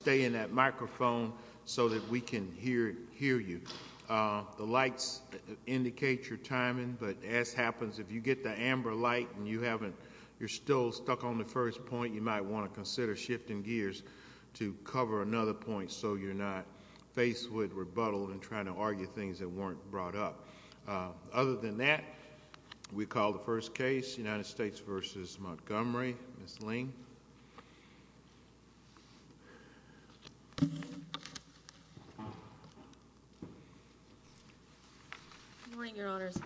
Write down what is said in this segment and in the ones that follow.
stay in that microphone so that we can hear hear you the lights indicate your timing but as happens if you get the amber light and you haven't you're still stuck on the first point you might want to consider shifting gears to cover another point so you're not faced with rebuttal and trying to argue things that weren't brought up other than that we call the first case United States versus Montgomery Ms. Ling morning your honors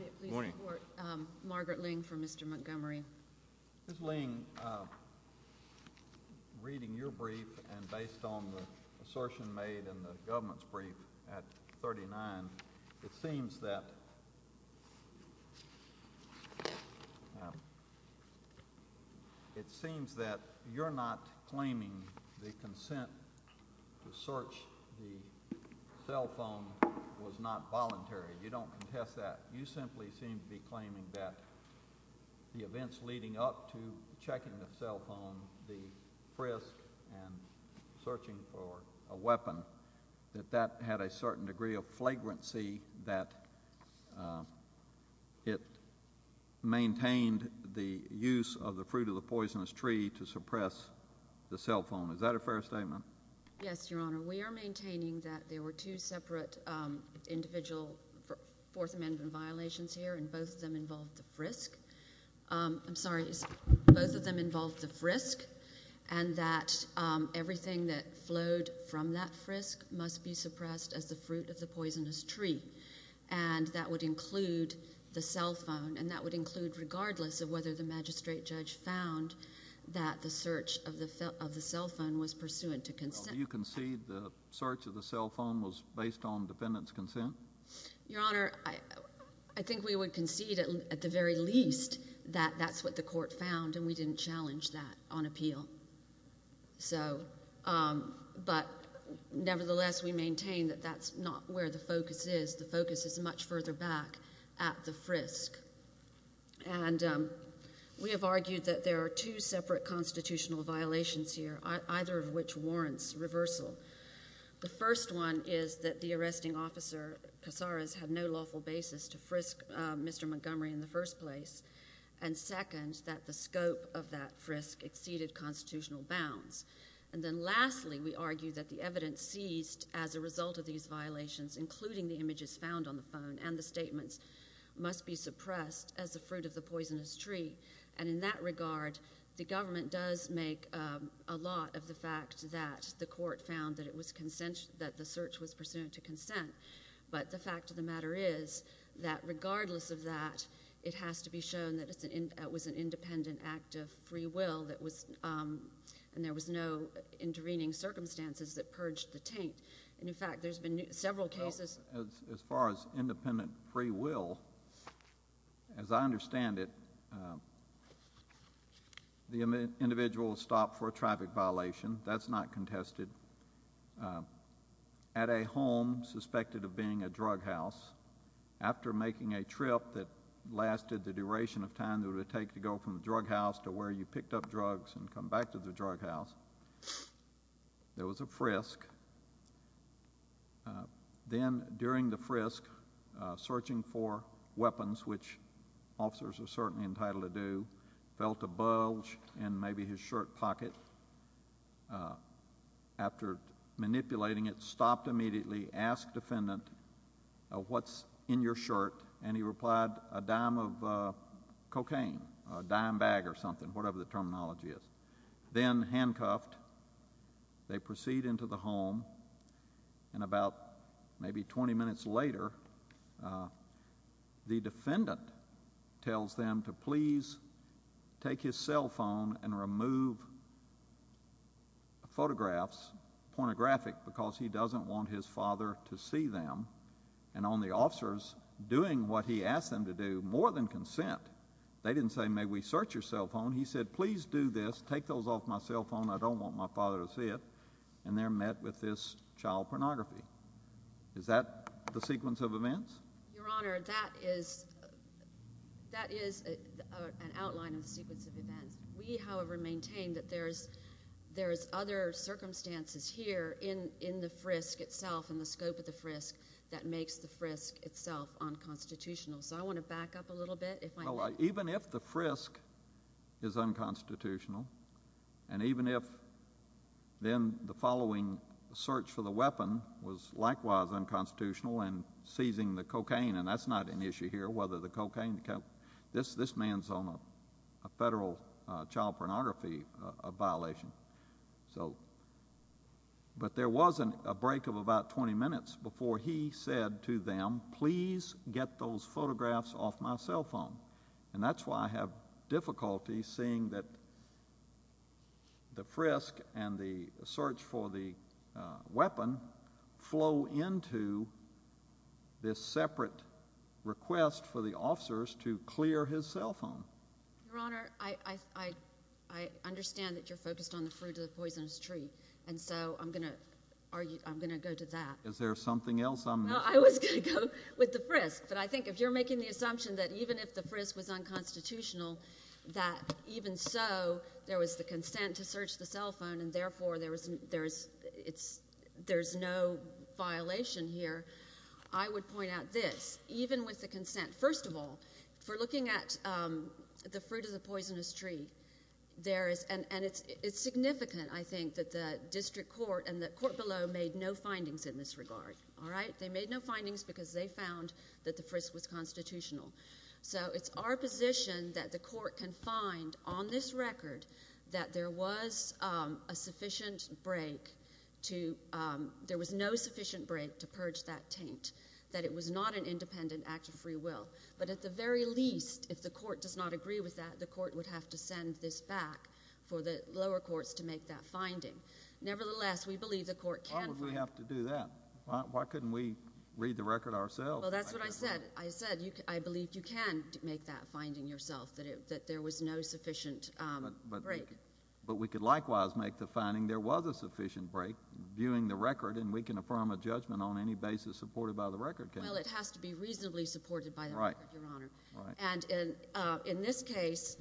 Margaret Ling for Mr. Montgomery reading your brief and based on the government's brief at 39 it seems that it seems that you're not claiming the consent to search the cell phone was not voluntary you don't contest that you simply seem to be claiming that the events leading up to checking the cell phone the searching for a weapon that that had a certain degree of flagrancy that it maintained the use of the fruit of the poisonous tree to suppress the cell phone is that a fair statement yes your honor we are maintaining that there were two separate individual fourth that everything that flowed from that frisk must be suppressed as the fruit of the poisonous tree and that would include the cell phone and that would include regardless of whether the magistrate judge found that the search of the cell phone was pursuant to consent you can see the search of the cell phone was based on defendant's consent your honor I think we would concede at the very least that that's what the court found and we didn't challenge that on appeal so but nevertheless we maintain that that's not where the focus is the focus is much further back at the frisk and we have argued that there are two separate constitutional violations here either of and second that the scope of that frisk exceeded constitutional bounds and then lastly we argue that the evidence seized as a result of these violations including the images found on the phone and the statements must be suppressed as the fruit of the poisonous tree and in that regard the government does make a lot of the fact that the court found that it was consensual that the search was pursuant to consent but the fact of the matter is that the court found that it was an independent act of free will that was and there was no intervening circumstances that purged the taint and in fact there's been several cases as far as independent free will as I understand it the individual stopped for a traffic violation that's not contested at a home suspected of being a drug house after making a trip that lasted the duration of time that it would take to go from the drug house to where you picked up drugs and come back to the drug house there was a frisk then during the frisk searching for weapons which officers are certainly entitled to do felt a bulge and maybe his shirt pocket after manipulating it stopped immediately ask defendant what's in your shirt and he replied a dime of cocaine a dime bag or something whatever the terminology is then handcuffed they proceed into the home and about maybe 20 minutes later the defendant tells them to please take his cell phone and remove photographs pornographic because he doesn't want his father to see them and on the officers doing what he asked them to do more than consent they didn't say may we search your cell phone he said please do this take those off my sequence of events your honor that is that is an outline of sequence of events we however maintain that there's there's other circumstances here in in the frisk itself in the scope of the frisk that makes the frisk itself unconstitutional so I want to back up a little bit if I like even if the frisk is unconstitutional and seizing the cocaine and that's not an issue here whether the cocaine this this man's on a federal child pornography a violation so but there wasn't a break of about 20 minutes before he said to them please get those photographs off my cell phone and that's why I have difficulty seeing that the frisk and the search for the weapon flow into this separate request for the officers to clear his cell phone your honor I I understand that you're focused on the fruit of the poisonous tree and so I'm gonna are you I'm gonna go to that is there something else I'm not I was gonna go with the frisk but I think if you're making the therefore there isn't there's it's there's no violation here I would point out this even with the consent first of all for looking at the fruit of the poisonous tree there is an and it's it's significant I think that the district court and the court below made no findings in this regard all right they made no findings because they found that the position that the court can find on this record that there was a sufficient break to there was no sufficient break to purge that taint that it was not an independent act of free will but at the very least if the court does not agree with that the court would have to send this back for the lower courts to make that finding nevertheless we believe the court can we have to do that why couldn't we read the record ourselves that's what I said I said I believe you can make that finding yourself that it that there was no sufficient break but we could likewise make the finding there was a sufficient break viewing the record and we can affirm a judgment on any basis supported by the record well it has to be reasonably supported by the right your honor and in in this case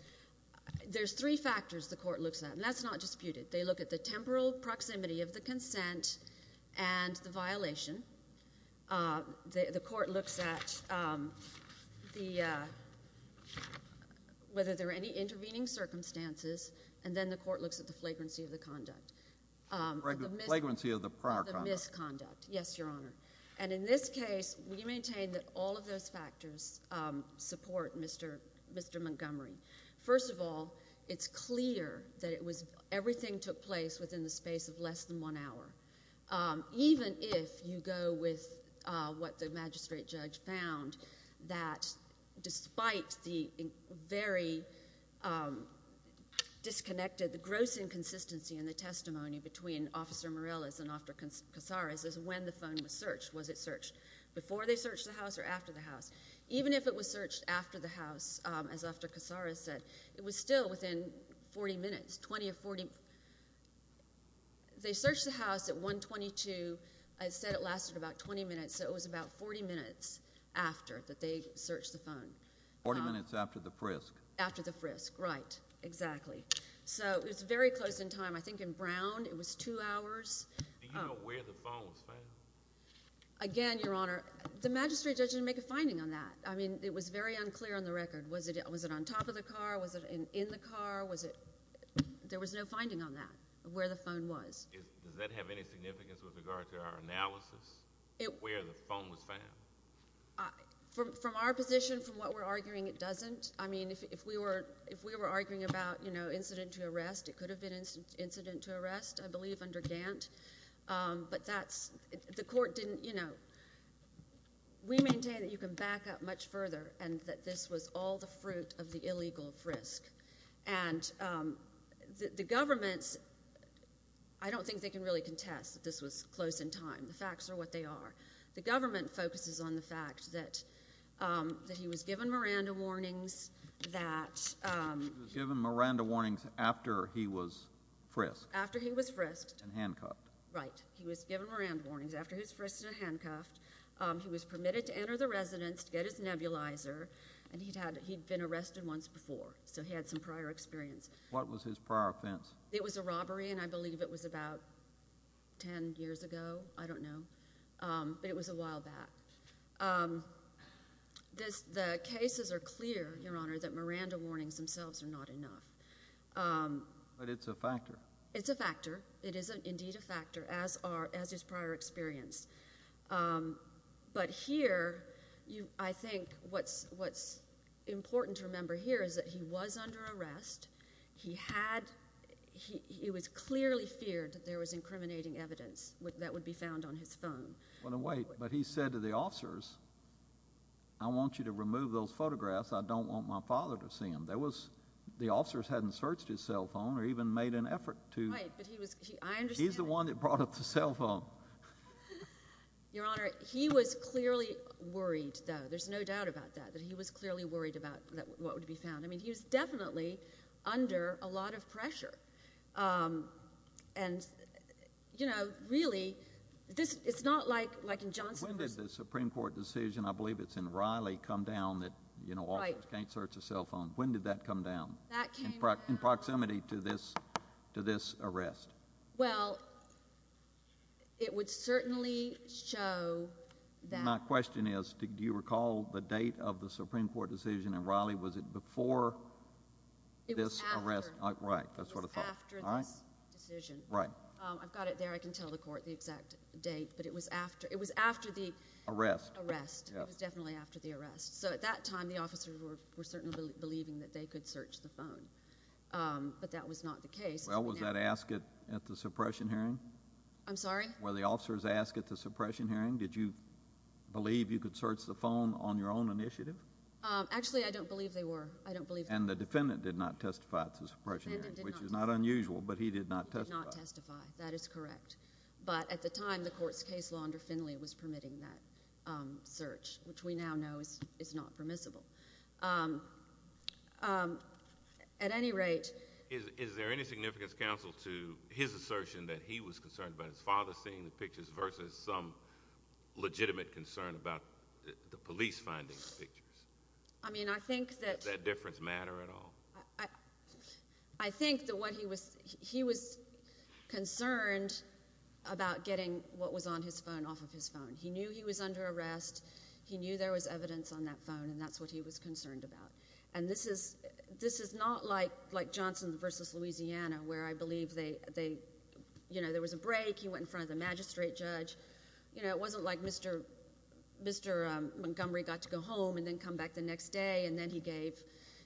there's three factors the court looks at and that's not disputed they look at the temporal proximity of the consent and the violation the court looks at the whether there are any intervening circumstances and then the court looks at the flagrancy of the conduct flagrancy of the prior conduct yes your honor and in this case we maintain that all of those factors support mr. mr. Montgomery first of all it's clear that it was everything took place within the space of less than one hour even if you go with what the magistrate judge found that despite the very disconnected the gross inconsistency in the testimony between officer Morellas and officer Casares is when the phone was searched was it searched before they searched the house or after the house even if it was searched after the house as officer Casares said it was still within 40 minutes 20 or 40 they searched the house at 122 I said it lasted about 20 minutes so it was about 40 minutes after that they searched the phone 40 minutes after the frisk after the frisk right exactly so it's very close in time I think in Brown it was two hours again your honor the magistrate judge didn't make a finding on that I mean it was very unclear on the record was it it was it on top of the car was it in the car was it there was no finding on that where the phone was does that have any significance with regard to our analysis it where the phone was found from our position from what we're arguing it doesn't I mean if we were if we were arguing about you know incident to arrest it could have been incident to arrest I believe under Gantt but that's the court didn't you know we maintain that you can back up much further and that this was all the they can really contest this was close in time the facts are what they are the government focuses on the fact that that he was given Miranda warnings that given Miranda warnings after he was frisked after he was frisked and handcuffed right he was given Miranda warnings after his frisks and handcuffed he was permitted to enter the residence to get his nebulizer and he'd had he'd been arrested once before so he had some prior experience what was his prior offense it was a robbery and I believe it was about 10 years ago I don't know it was a while back this the cases are clear your honor that Miranda warnings themselves are not enough but it's a factor it's a factor it isn't indeed a factor as are as his prior experience but here you I think what's what's important to remember here is that he was under arrest he had he was clearly feared that there was incriminating evidence that would be found on his phone but he said to the officers I want you to remove those photographs I don't want my father to see him there was the officers hadn't searched his cell phone or even made an effort to he's the one that brought up the cell phone your honor he was clearly worried though there's no doubt about that that he was clearly worried about what would be found I mean he's definitely under a lot of pressure and you know really this is not like like in Johnson Supreme Court decision I believe it's in Riley come down that you know I can't search a cell phone when did that come down in proximity to this to this arrest well it was it before it was after the arrest definitely after the arrest so at that time the officers were certainly believing that they could search the phone but that was not the case well was that ask it at the suppression hearing I'm sorry well the officers asked at the suppression hearing did you believe you could search the phone on your own initiative actually I don't believe they were I don't believe and the defendant did not testify to suppression which is not unusual but he did not testify that is correct but at the time the court's case law under Finley was permitting that search which we now know is it's not permissible at any rate is there any significance counsel to his assertion that he was concerned about his father seeing the pictures versus some the police findings pictures I mean I think that that difference matter at all I think that what he was he was concerned about getting what was on his phone off of his phone he knew he was under arrest he knew there was evidence on that phone and that's what he was concerned about and this is this is not like like Johnson versus Louisiana where I believe they they you know there was a break he went in front of the magistrate judge you know it wasn't like mr. mr. Montgomery got to go home and then come back the next day and then he gave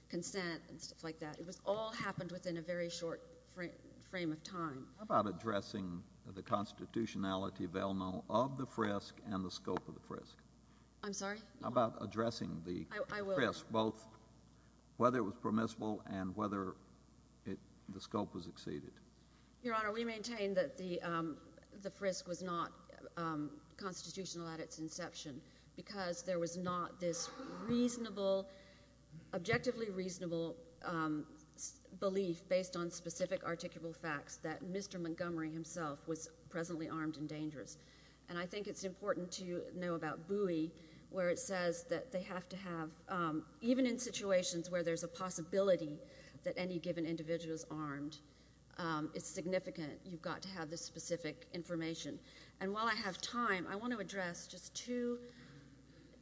consent and stuff like that it was all happened within a very short frame of time about addressing the constitutionality of elmo of the frisk and the scope of the frisk I'm sorry about addressing the I will yes both whether it was permissible and whether it the scope was exceeded your honor we there was not this reasonable objectively reasonable belief based on specific articulable facts that mr. Montgomery himself was presently armed and dangerous and I think it's important to know about buoy where it says that they have to have even in situations where there's a possibility that any given individuals armed it's significant you've got to have this specific information and while I have time I want to address just to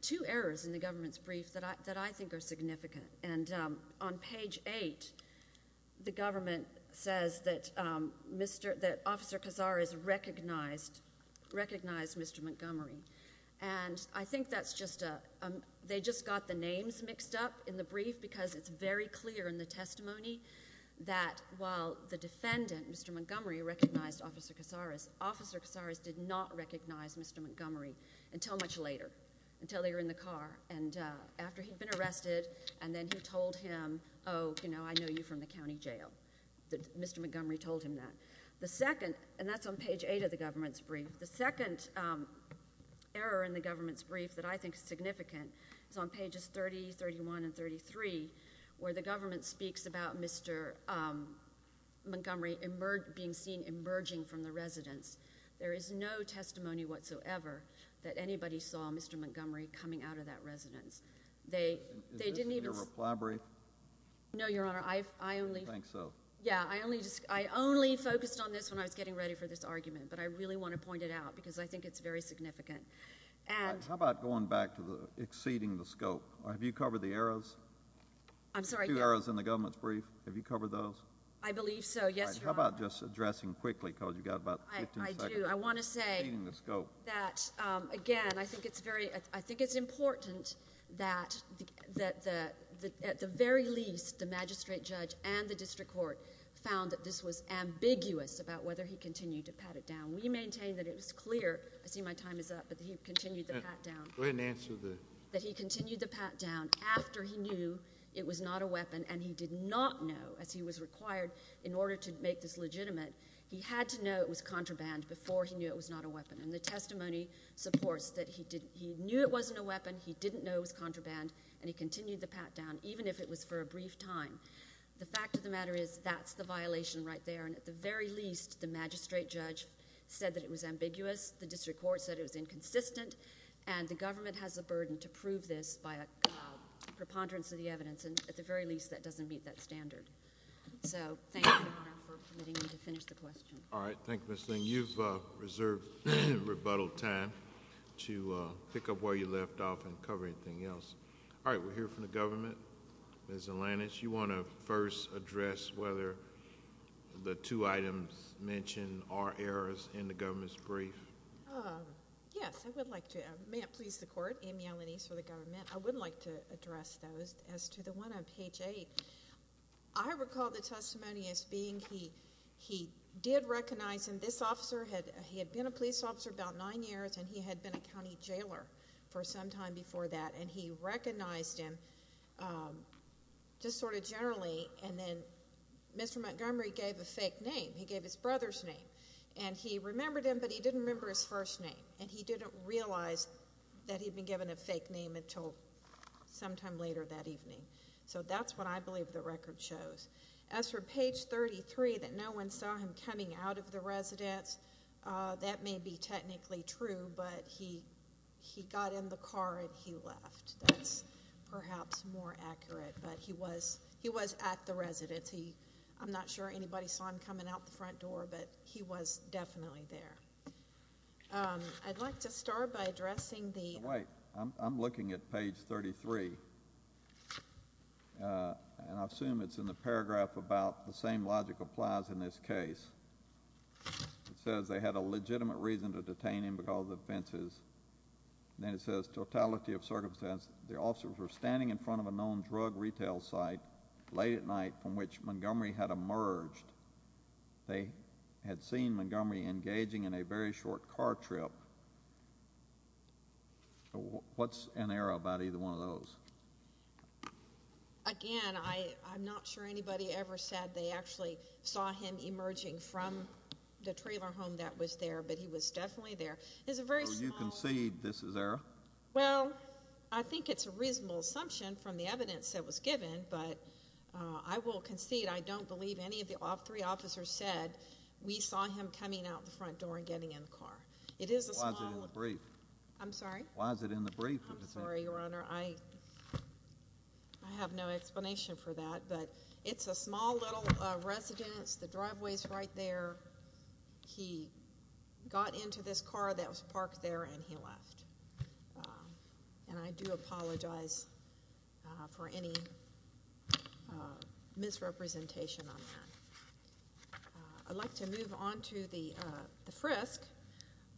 two errors in the government's brief that I that I think are significant and on page 8 the government says that mr. that officer Kazar is recognized recognized mr. Montgomery and I think that's just a they just got the names mixed up in the brief because it's very clear in the testimony that while the defendant mr. officer Casares officer Casares did not recognize mr. Montgomery until much later until they were in the car and after he'd been arrested and then he told him oh you know I know you from the county jail that mr. Montgomery told him that the second and that's on page 8 of the government's brief the second error in the government's brief that I think is significant it's on pages 30 31 and 33 where the government speaks about mr. Montgomery emerge being seen emerging from the residence there is no testimony whatsoever that anybody saw mr. Montgomery coming out of that residence they they didn't even reply brief no your honor I only think so yeah I only just I only focused on this when I was getting ready for this argument but I really want to point it out because I think it's very significant and how about going back to the exceeding the scope I have you covered the arrows I'm sorry arrows in the government's brief have you covered those I believe so yes how about just addressing quickly because you got about I want to say let's go that again I think it's very I think it's important that that the at the very least the magistrate judge and the district court found that this was ambiguous about whether he continued to pat it down we maintain that it was clear I see my time is up but he continued the pat-down that he continued the pat-down after he knew it was not a no as he was required in order to make this legitimate he had to know it was contraband before he knew it was not a weapon and the testimony supports that he did he knew it wasn't a weapon he didn't know it was contraband and he continued the pat-down even if it was for a brief time the fact of the matter is that's the violation right there and at the very least the magistrate judge said that it was ambiguous the district court said it was inconsistent and the government has a burden to prove this by a preponderance of the evidence and at very least that doesn't meet that standard so thank you for letting me to finish the question all right thank you miss thing you've reserved rebuttal time to pick up where you left off and cover anything else all right we're here from the government as Atlantis you want to first address whether the two items mentioned are errors in the government's brief yes I would like to may it please the court amy alanese for the government I would like to address those as to the one on page 8 I recall the testimony as being he he did recognize him this officer had he had been a police officer about nine years and he had been a county jailer for some time before that and he recognized him just sort of generally and then mr. Montgomery gave a fake name he gave his brother's name and he remembered him but he didn't remember his first name and he didn't realize that he'd been given a fake name until sometime later that evening so that's what I believe the record shows as for page 33 that no one saw him coming out of the residence that may be technically true but he he got in the car and he left perhaps more accurate but he was he was at the residency I'm not sure anybody saw him coming out the front door but he was definitely there I'd like I'm looking at page 33 and I assume it's in the paragraph about the same logic applies in this case it says they had a legitimate reason to detain him because the fences then it says totality of circumstance the officers were standing in front of a known drug retail site late at night from which Montgomery had emerged they had seen Montgomery engaging in a very short car trip what's an error about either one of those again I I'm not sure anybody ever said they actually saw him emerging from the trailer home that was there but he was definitely there is a very you can see this is there well I think it's a reasonable assumption from the evidence that was given but I will concede I don't believe any of the off three officers said we saw him coming out the front door and getting in the car it is a brief I'm sorry why is it in the brief I'm sorry your honor I I have no explanation for that but it's a small little residence the driveway is right there he got into this car that was parked there and he left and I do apologize for any misrepresentation on I'd like to move on to the frisk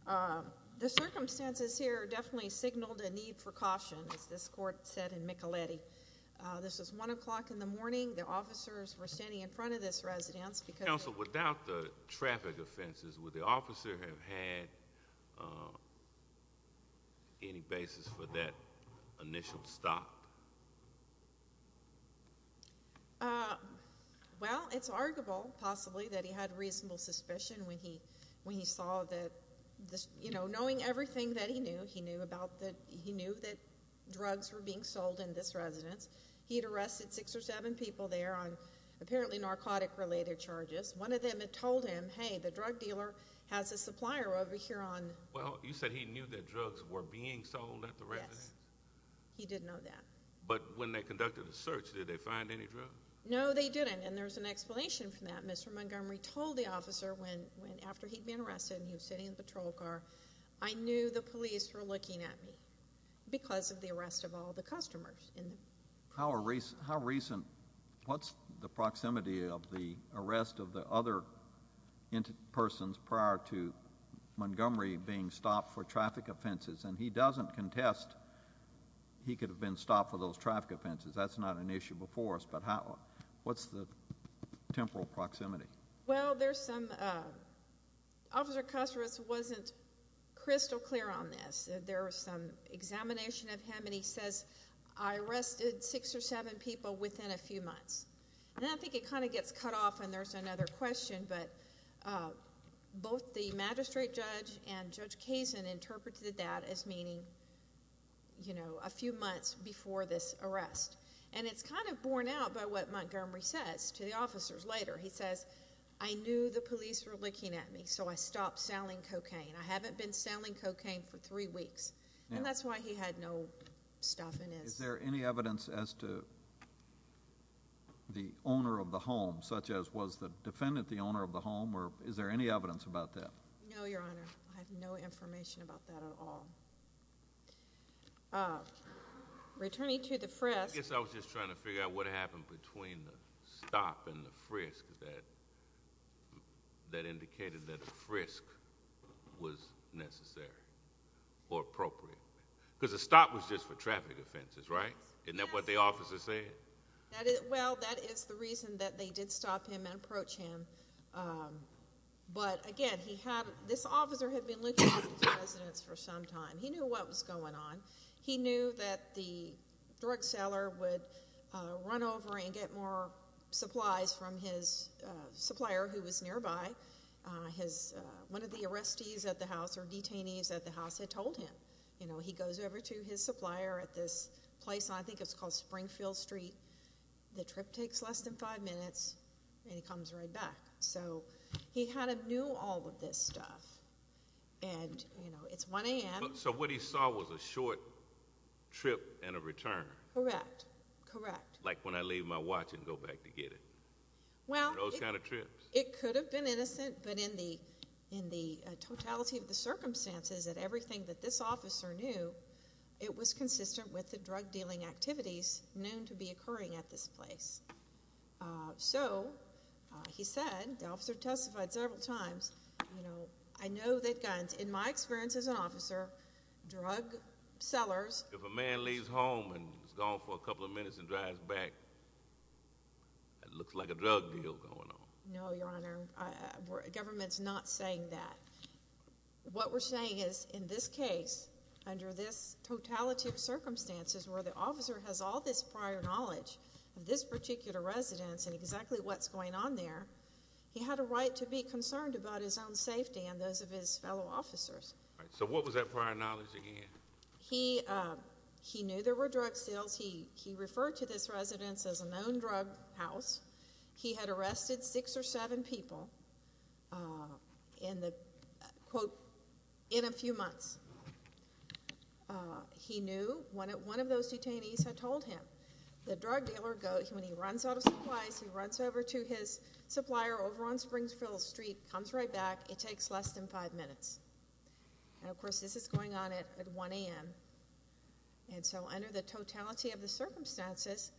the circumstances here definitely signaled a need for caution as this court said in Micheletti this is one o'clock in the morning the officers were standing in front of this residence because without the traffic offenses with the officer have had any basis for that initial stop well it's arguable possibly that he had reasonable suspicion when he when he saw that this you know knowing everything that he knew he knew about that he knew that drugs were being sold in this residence he'd arrested six or seven people there on apparently narcotic related charges one of them had told him hey the drug dealer has a supplier over here on well you said he knew that drugs were being sold at the residence he didn't know that but when they conducted a search did they find any drugs no they didn't and there's an explanation for that mr. Montgomery told the officer when when after he'd been arrested and he was sitting in the patrol car I knew the police were looking at me because of the arrest of all the customers in the power race how recent what's the proximity of the arrest of the other persons prior to Montgomery being stopped for traffic offenses and he doesn't contest he could have been stopped for those traffic offenses that's not an issue before us but how what's the temporal proximity well there's some officer customers wasn't crystal clear on this there was some examination of him and he says I arrested six or seven people within a few months and I think it kind of gets cut off and there's another question but both the magistrate judge and judge Cason interpreted that as meaning you know a few months before this arrest and it's kind of borne out by what Montgomery says to the officers later he says I knew the police were looking at me so I stopped selling cocaine I haven't been selling cocaine for three weeks and that's why he had no stuff in is there any evidence as to the owner of the home such as was the defendant the owner of the home or is there any evidence about that no your honor I have no information about that at all returning to the frisk yes I was just trying to figure out what happened between the stop and the frisk that that indicated that a frisk was necessary or appropriate because the stop was just for offenses right isn't that what the officer said well that is the reason that they did stop him and approach him but again he had this officer had been looking for some time he knew what was going on he knew that the drug seller would run over and get more supplies from his supplier who was nearby his one of the arrestees at the house or detainees at the house had told him you this place I think it's called Springfield Street the trip takes less than five minutes and he comes right back so he had a new all of this stuff and you know it's 1 a.m. so what he saw was a short trip and a return correct correct like when I leave my watch and go back to get it well those kind of trips it could have been innocent but in the in the totality of the with the drug dealing activities known to be occurring at this place so he said the officer testified several times you know I know that guns in my experience as an officer drug sellers if a man leaves home and gone for a couple of minutes and drives back it looks like a drug deal going on no your honor government's not saying that what we're saying is in this case under this totality of circumstances where the officer has all this prior knowledge of this particular residence and exactly what's going on there he had a right to be concerned about his own safety and those of his fellow officers so what was that prior knowledge again he he knew there were drug sales he he referred to this residence as a known drug house he had arrested six or seven people in the in a few months he knew when it one of those detainees had told him the drug dealer goes when he runs out of supplies he runs over to his supplier over on Springsville Street comes right back it takes less than five minutes and of course this is going on at 1 a.m. and so under the totality of the circumstances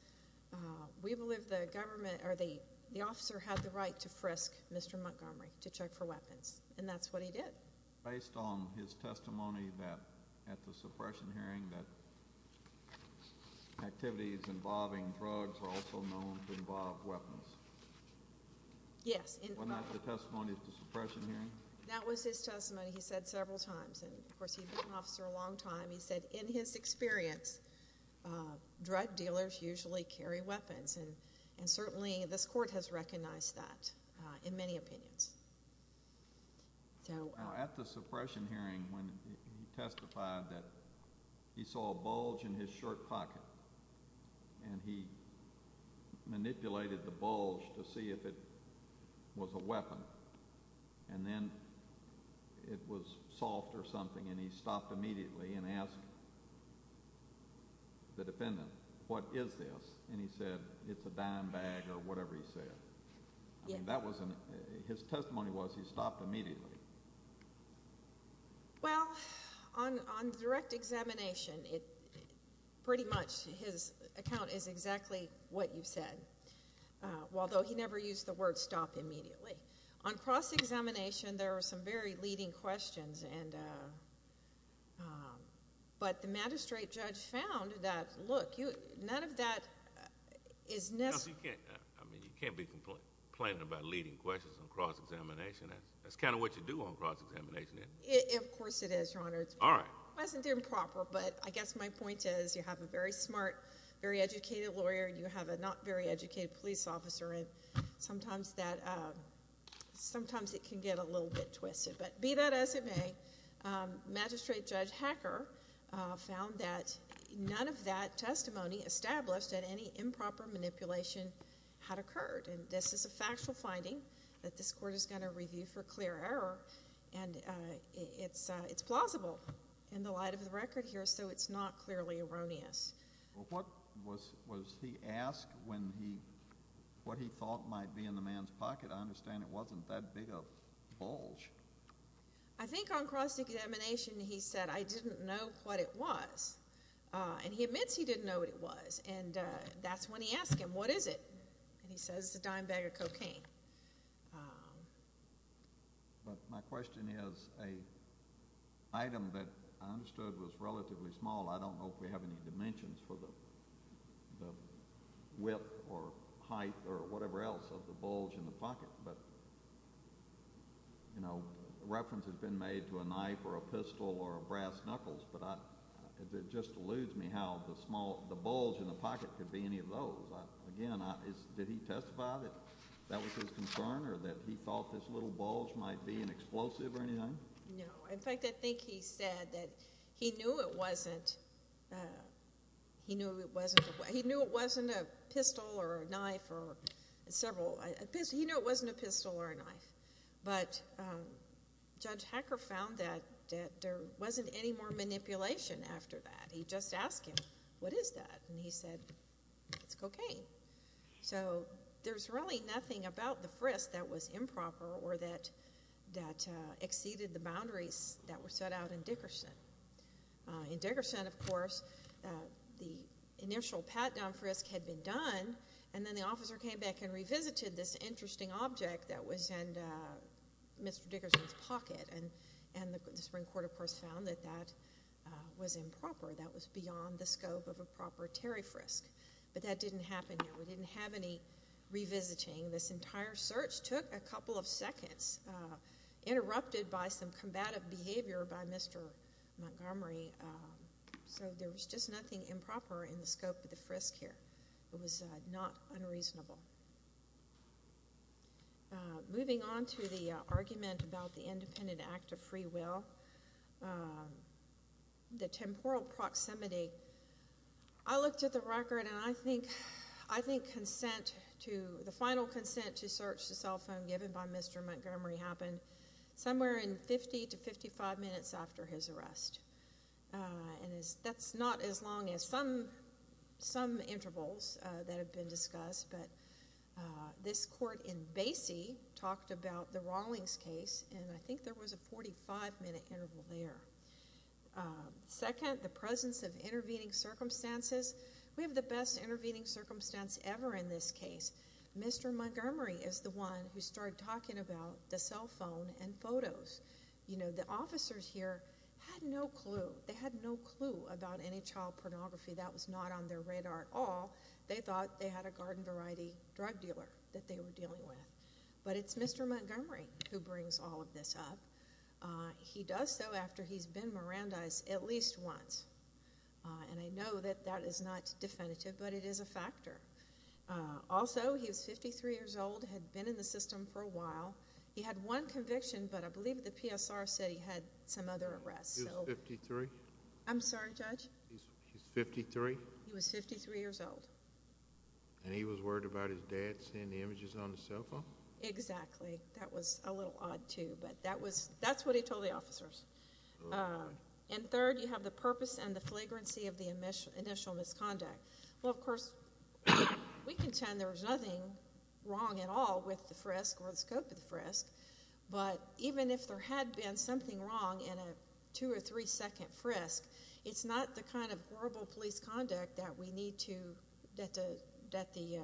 we believe the government or the the officer had the right to frisk mr. Montgomery to check for weapons and that's what he did based on his testimony that at the suppression hearing that activities involving drugs are also known to involve weapons yes that was his testimony he said several times and of course he's an officer a long time he said in his experience drug dealers usually carry weapons and and certainly this court has recognized that in many opinions so at the suppression hearing when he testified that he saw a bulge in his shirt pocket and he manipulated the bulge to see if it was a weapon and then it was soft or something and he stopped immediately and asked the was in his testimony was he stopped immediately well on direct examination it pretty much his account is exactly what you said although he never used the word stop immediately on cross-examination there are some very leading questions and but the magistrate judge found that look you none of that is necessary I mean you can't be complaining about leading questions on cross-examination that's kind of what you do on cross-examination it of course it is your honor all right wasn't improper but I guess my point is you have a very smart very educated lawyer you have a not very educated police officer and sometimes that sometimes it can get a little bit twisted but be that as it may magistrate judge Hacker found that none of that testimony established that any improper manipulation had occurred and this is a factual finding that this court is going to review for clear error and it's it's plausible in the light of the record here so it's not clearly erroneous what was was he asked when he what he thought might be in the man's pocket I understand it wasn't that big of bulge I think on cross-examination he said I didn't know what it was and he admits he didn't know what it was and that's when he asked him what is it and he says the dime bag of cocaine but my question is a item that I understood was relatively small I don't know if we have any dimensions for the whip or height or whatever else of the bulge in the pocket but you know reference has been made to a knife or a pistol or a brass knuckles but it just eludes me how the small the bulge in the pocket could be any of those again I did he testify that that was his concern or that he thought this little bulge might be an explosive or anything no in fact I think he said that he knew it wasn't he knew it wasn't he knew it wasn't a pistol or a knife or several I guess he knew it wasn't a pistol or a knife but judge Hacker found that there wasn't any more manipulation after that he just asked him what is that and he said it's cocaine so there's really nothing about the frisk that was improper or that that exceeded the boundaries that were set out in Dickerson in Dickerson of course the initial pat-down frisk had been done and then the officer came back and interesting object that was and Mr. Dickerson's pocket and and the Supreme Court of course found that that was improper that was beyond the scope of a proper Terry frisk but that didn't happen we didn't have any revisiting this entire search took a couple of seconds interrupted by some combative behavior by Mr. Montgomery so there was just nothing improper in the scope of the reasonable argument about the independent act of free will the temporal proximity I looked at the record and I think I think consent to the final consent to search the cell phone given by Mr. Montgomery happened somewhere in 50 to 55 minutes after his arrest that's not as long as some some intervals that have been discussed but this court in Basie talked about the Rawlings case and I think there was a 45 minute interval there second the presence of intervening circumstances we have the best intervening circumstance ever in this case Mr. Montgomery is the one who started talking about the cell phone and photos you know the officers here had no clue they had no clue about their radar at all they thought they had a garden variety drug dealer that they were dealing with but it's Mr. Montgomery who brings all of this up he does so after he's been Mirandized at least once and I know that that is not definitive but it is a factor also he was 53 years old had been in the system for a while he had one conviction but I believe the PSR said he had some other I'm sorry judge he's 53 he was 53 years old and he was worried about his dad seeing the images on the cell phone exactly that was a little odd too but that was that's what he told the officers and third you have the purpose and the flagrancy of the initial initial misconduct well of course we contend there was nothing wrong at all with the frisk or the scope of the frisk but even if there had been something wrong in a two or three second frisk it's not the kind of horrible police conduct that we need to that the that the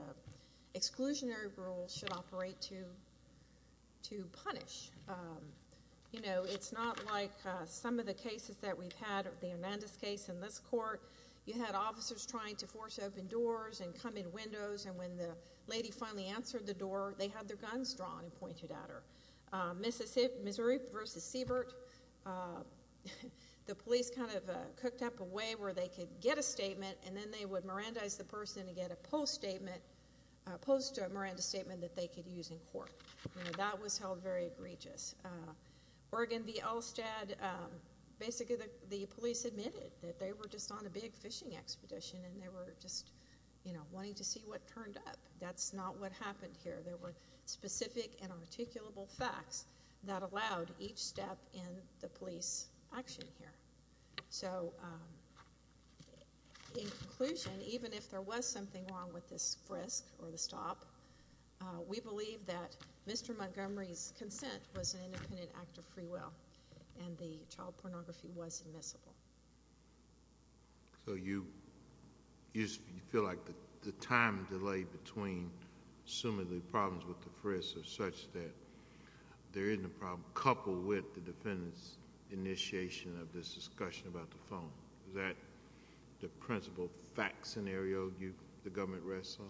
exclusionary rule should operate to to punish you know it's not like some of the cases that we've had the Amanda's case in this court you had officers trying to force open doors and come in windows and when the lady finally answered the door they had their guns drawn and pointed at her Mississippi Missouri versus Siebert the police kind of cooked up a way where they could get a statement and then they would Miranda's the person to get a post statement opposed to a Miranda statement that they could use in court that was held very egregious Oregon the Elstad basically the police admitted that they were just on a big fishing expedition and they were just you know wanting to see what turned up that's not what happened here there were specific and articulable facts that allowed each step in the police action here so inclusion even if there was something wrong with this frisk or the stop we believe that mr. Montgomery's consent was an independent act of free will and the child pornography was admissible so you you feel like the time delay between assuming the problems with the frisk or such that there isn't a problem coupled with the defendants initiation of this discussion about the phone that the principal fact scenario you the government wrestle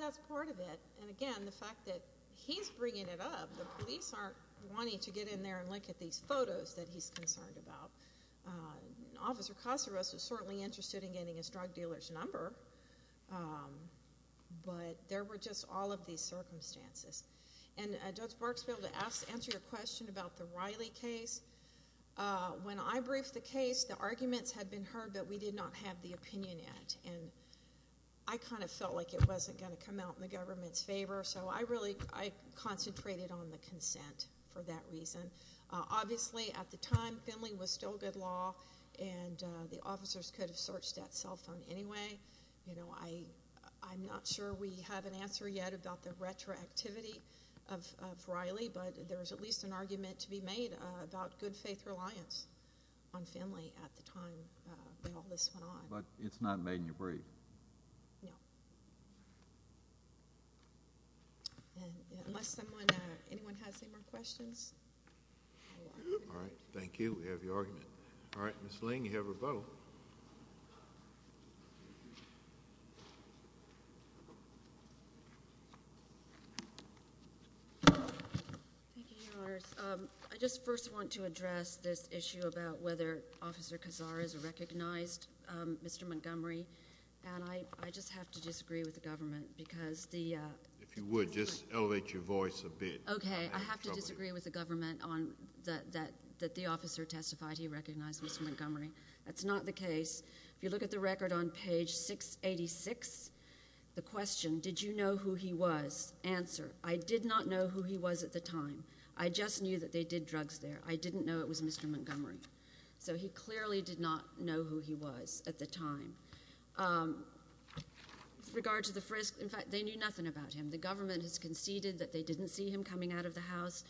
that's part of it and again the fact that he's bringing it up the police aren't wanting to get in there and look at these photos that he's drug dealers number but there were just all of these circumstances and just works bill to ask answer your question about the Riley case when I briefed the case the arguments had been heard that we did not have the opinion yet and I kind of felt like it wasn't going to come out in the government's favor so I really I concentrated on the consent for that reason obviously at the time Finley was still good law and the officers could have searched that cell phone anyway you know I I'm not sure we have an answer yet about the retroactivity of Riley but there was at least an argument to be made about good faith reliance on Finley at the time but it's not made in your brief no unless someone anyone has any more questions all right thank you we have your argument all right miss Ling you have rebuttal I just first want to address this issue about whether officer Kazar is recognized mr. Montgomery and I just have to disagree with the government because the if you would just elevate your voice a bit okay I have to disagree with the government on that that that the officer testified he recognized Montgomery that's not the case if you look at the record on page 686 the question did you know who he was answer I did not know who he was at the time I just knew that they did drugs there I didn't know it was mr. Montgomery so he clearly did not know who he was at the time regard to the frisk in fact they knew nothing about him the government has conceded that they didn't see him coming out of the house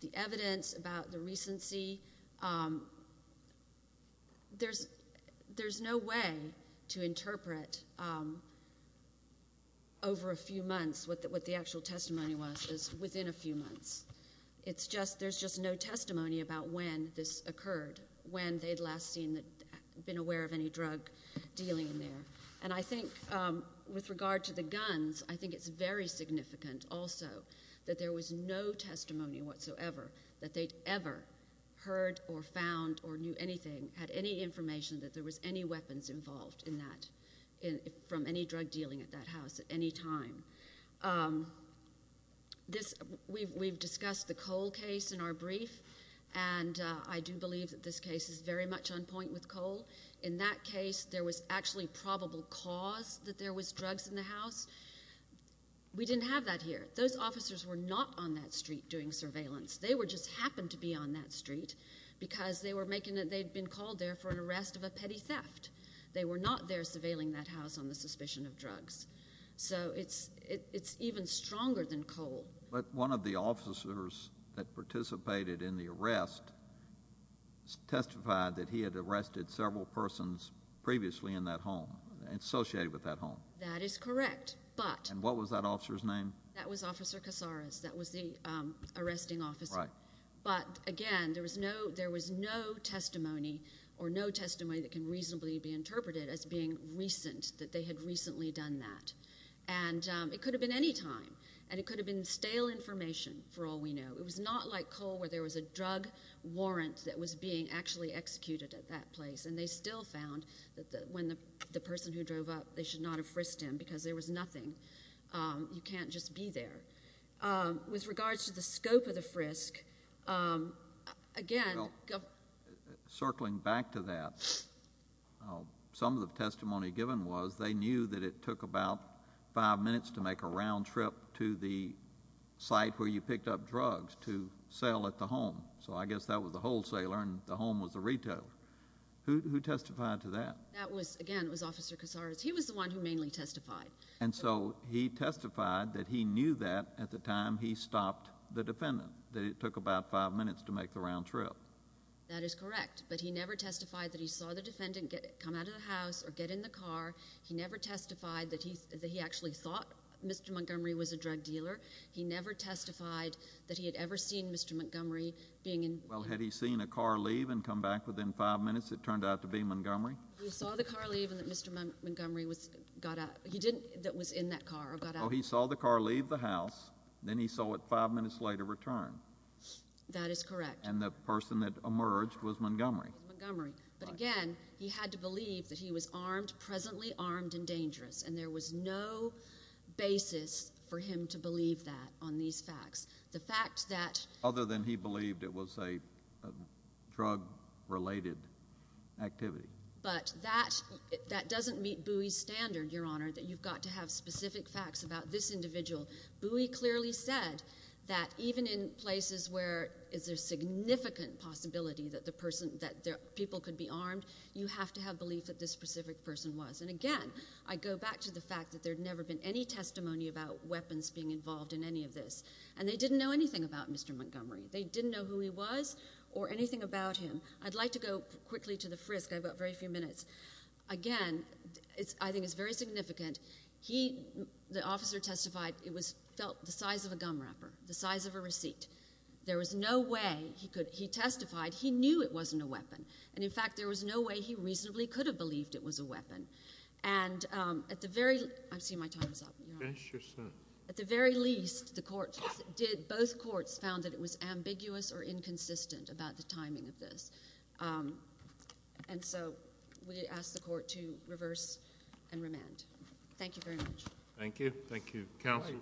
the evidence about the recency there's there's no way to interpret over a few months with what the actual testimony was is within a few months it's just there's just no testimony about when this occurred when they'd last seen that been aware of any drug dealing in there and I think with regard to the guns I think it's very significant also that there was no testimony whatsoever that they'd ever heard or found or knew anything had any information that there was any weapons involved in that in from any drug dealing at that house at any time this we've discussed the coal case in our brief and I do believe that this case is very much on point with coal in that case there was actually probable cause that there was drugs in the house we didn't have that here those officers were not on that street doing surveillance they were just happened to be on that street because they were making it they've been called there for an arrest of a petty theft they were not there surveilling that house on the suspicion of drugs so it's it's even stronger than coal but one of the officers that participated in the arrest testified that he had arrested several persons previously in that home associated with that home that is correct but and what was that officer's name that was officer Casares that was the arresting officer but again there was no there was no testimony or no testimony that can reasonably be interpreted as being recent that they had recently done that and it could have been any time and it could have been stale information for all we know it was not like coal where there was a drug warrant that was being actually executed at that place and they still found that when the person who drove up they should not have frisked him because there was nothing you can't just be there with regards to the scope of the frisk again circling back to that some of the testimony given was they knew that it took about five minutes to make a round trip to the site where you picked up drugs to sell at the home so I guess that was the wholesaler and the home was the retail who testified to that that was again was officer Casares he was the one who mainly testified and so he testified that he knew that at the time he stopped the defendant that it took about five minutes to make the round trip that is correct but he never testified that he saw the defendant get it come out of the house or get in the Montgomery was a drug dealer he never testified that he had ever seen mr. Montgomery being in well had he seen a car leave and come back within five minutes it turned out to be Montgomery Montgomery was got up he didn't that was in that car oh he saw the car leave the house then he saw it five minutes later return that is correct and the person that emerged was Montgomery Montgomery but again he had to believe that he was basis for him to believe that on these facts the fact that other than he believed it was a drug-related activity but that that doesn't meet Buie's standard your honor that you've got to have specific facts about this individual Buie clearly said that even in places where is there significant possibility that the person that there people could be armed you have to have belief that this specific person was and again I go back to the fact that there have never been any testimony about weapons being involved in any of this and they didn't know anything about mr. Montgomery they didn't know who he was or anything about him I'd like to go quickly to the frisk I've got very few minutes again it's I think it's very significant he the officer testified it was felt the size of a gum wrapper the size of a receipt there was no way he could he testified he knew it wasn't a weapon and in fact there was no way he at the very least the court did both courts found that it was ambiguous or inconsistent about the timing of this and so we asked the court to reverse and remand thank you very much thank you thank you counsel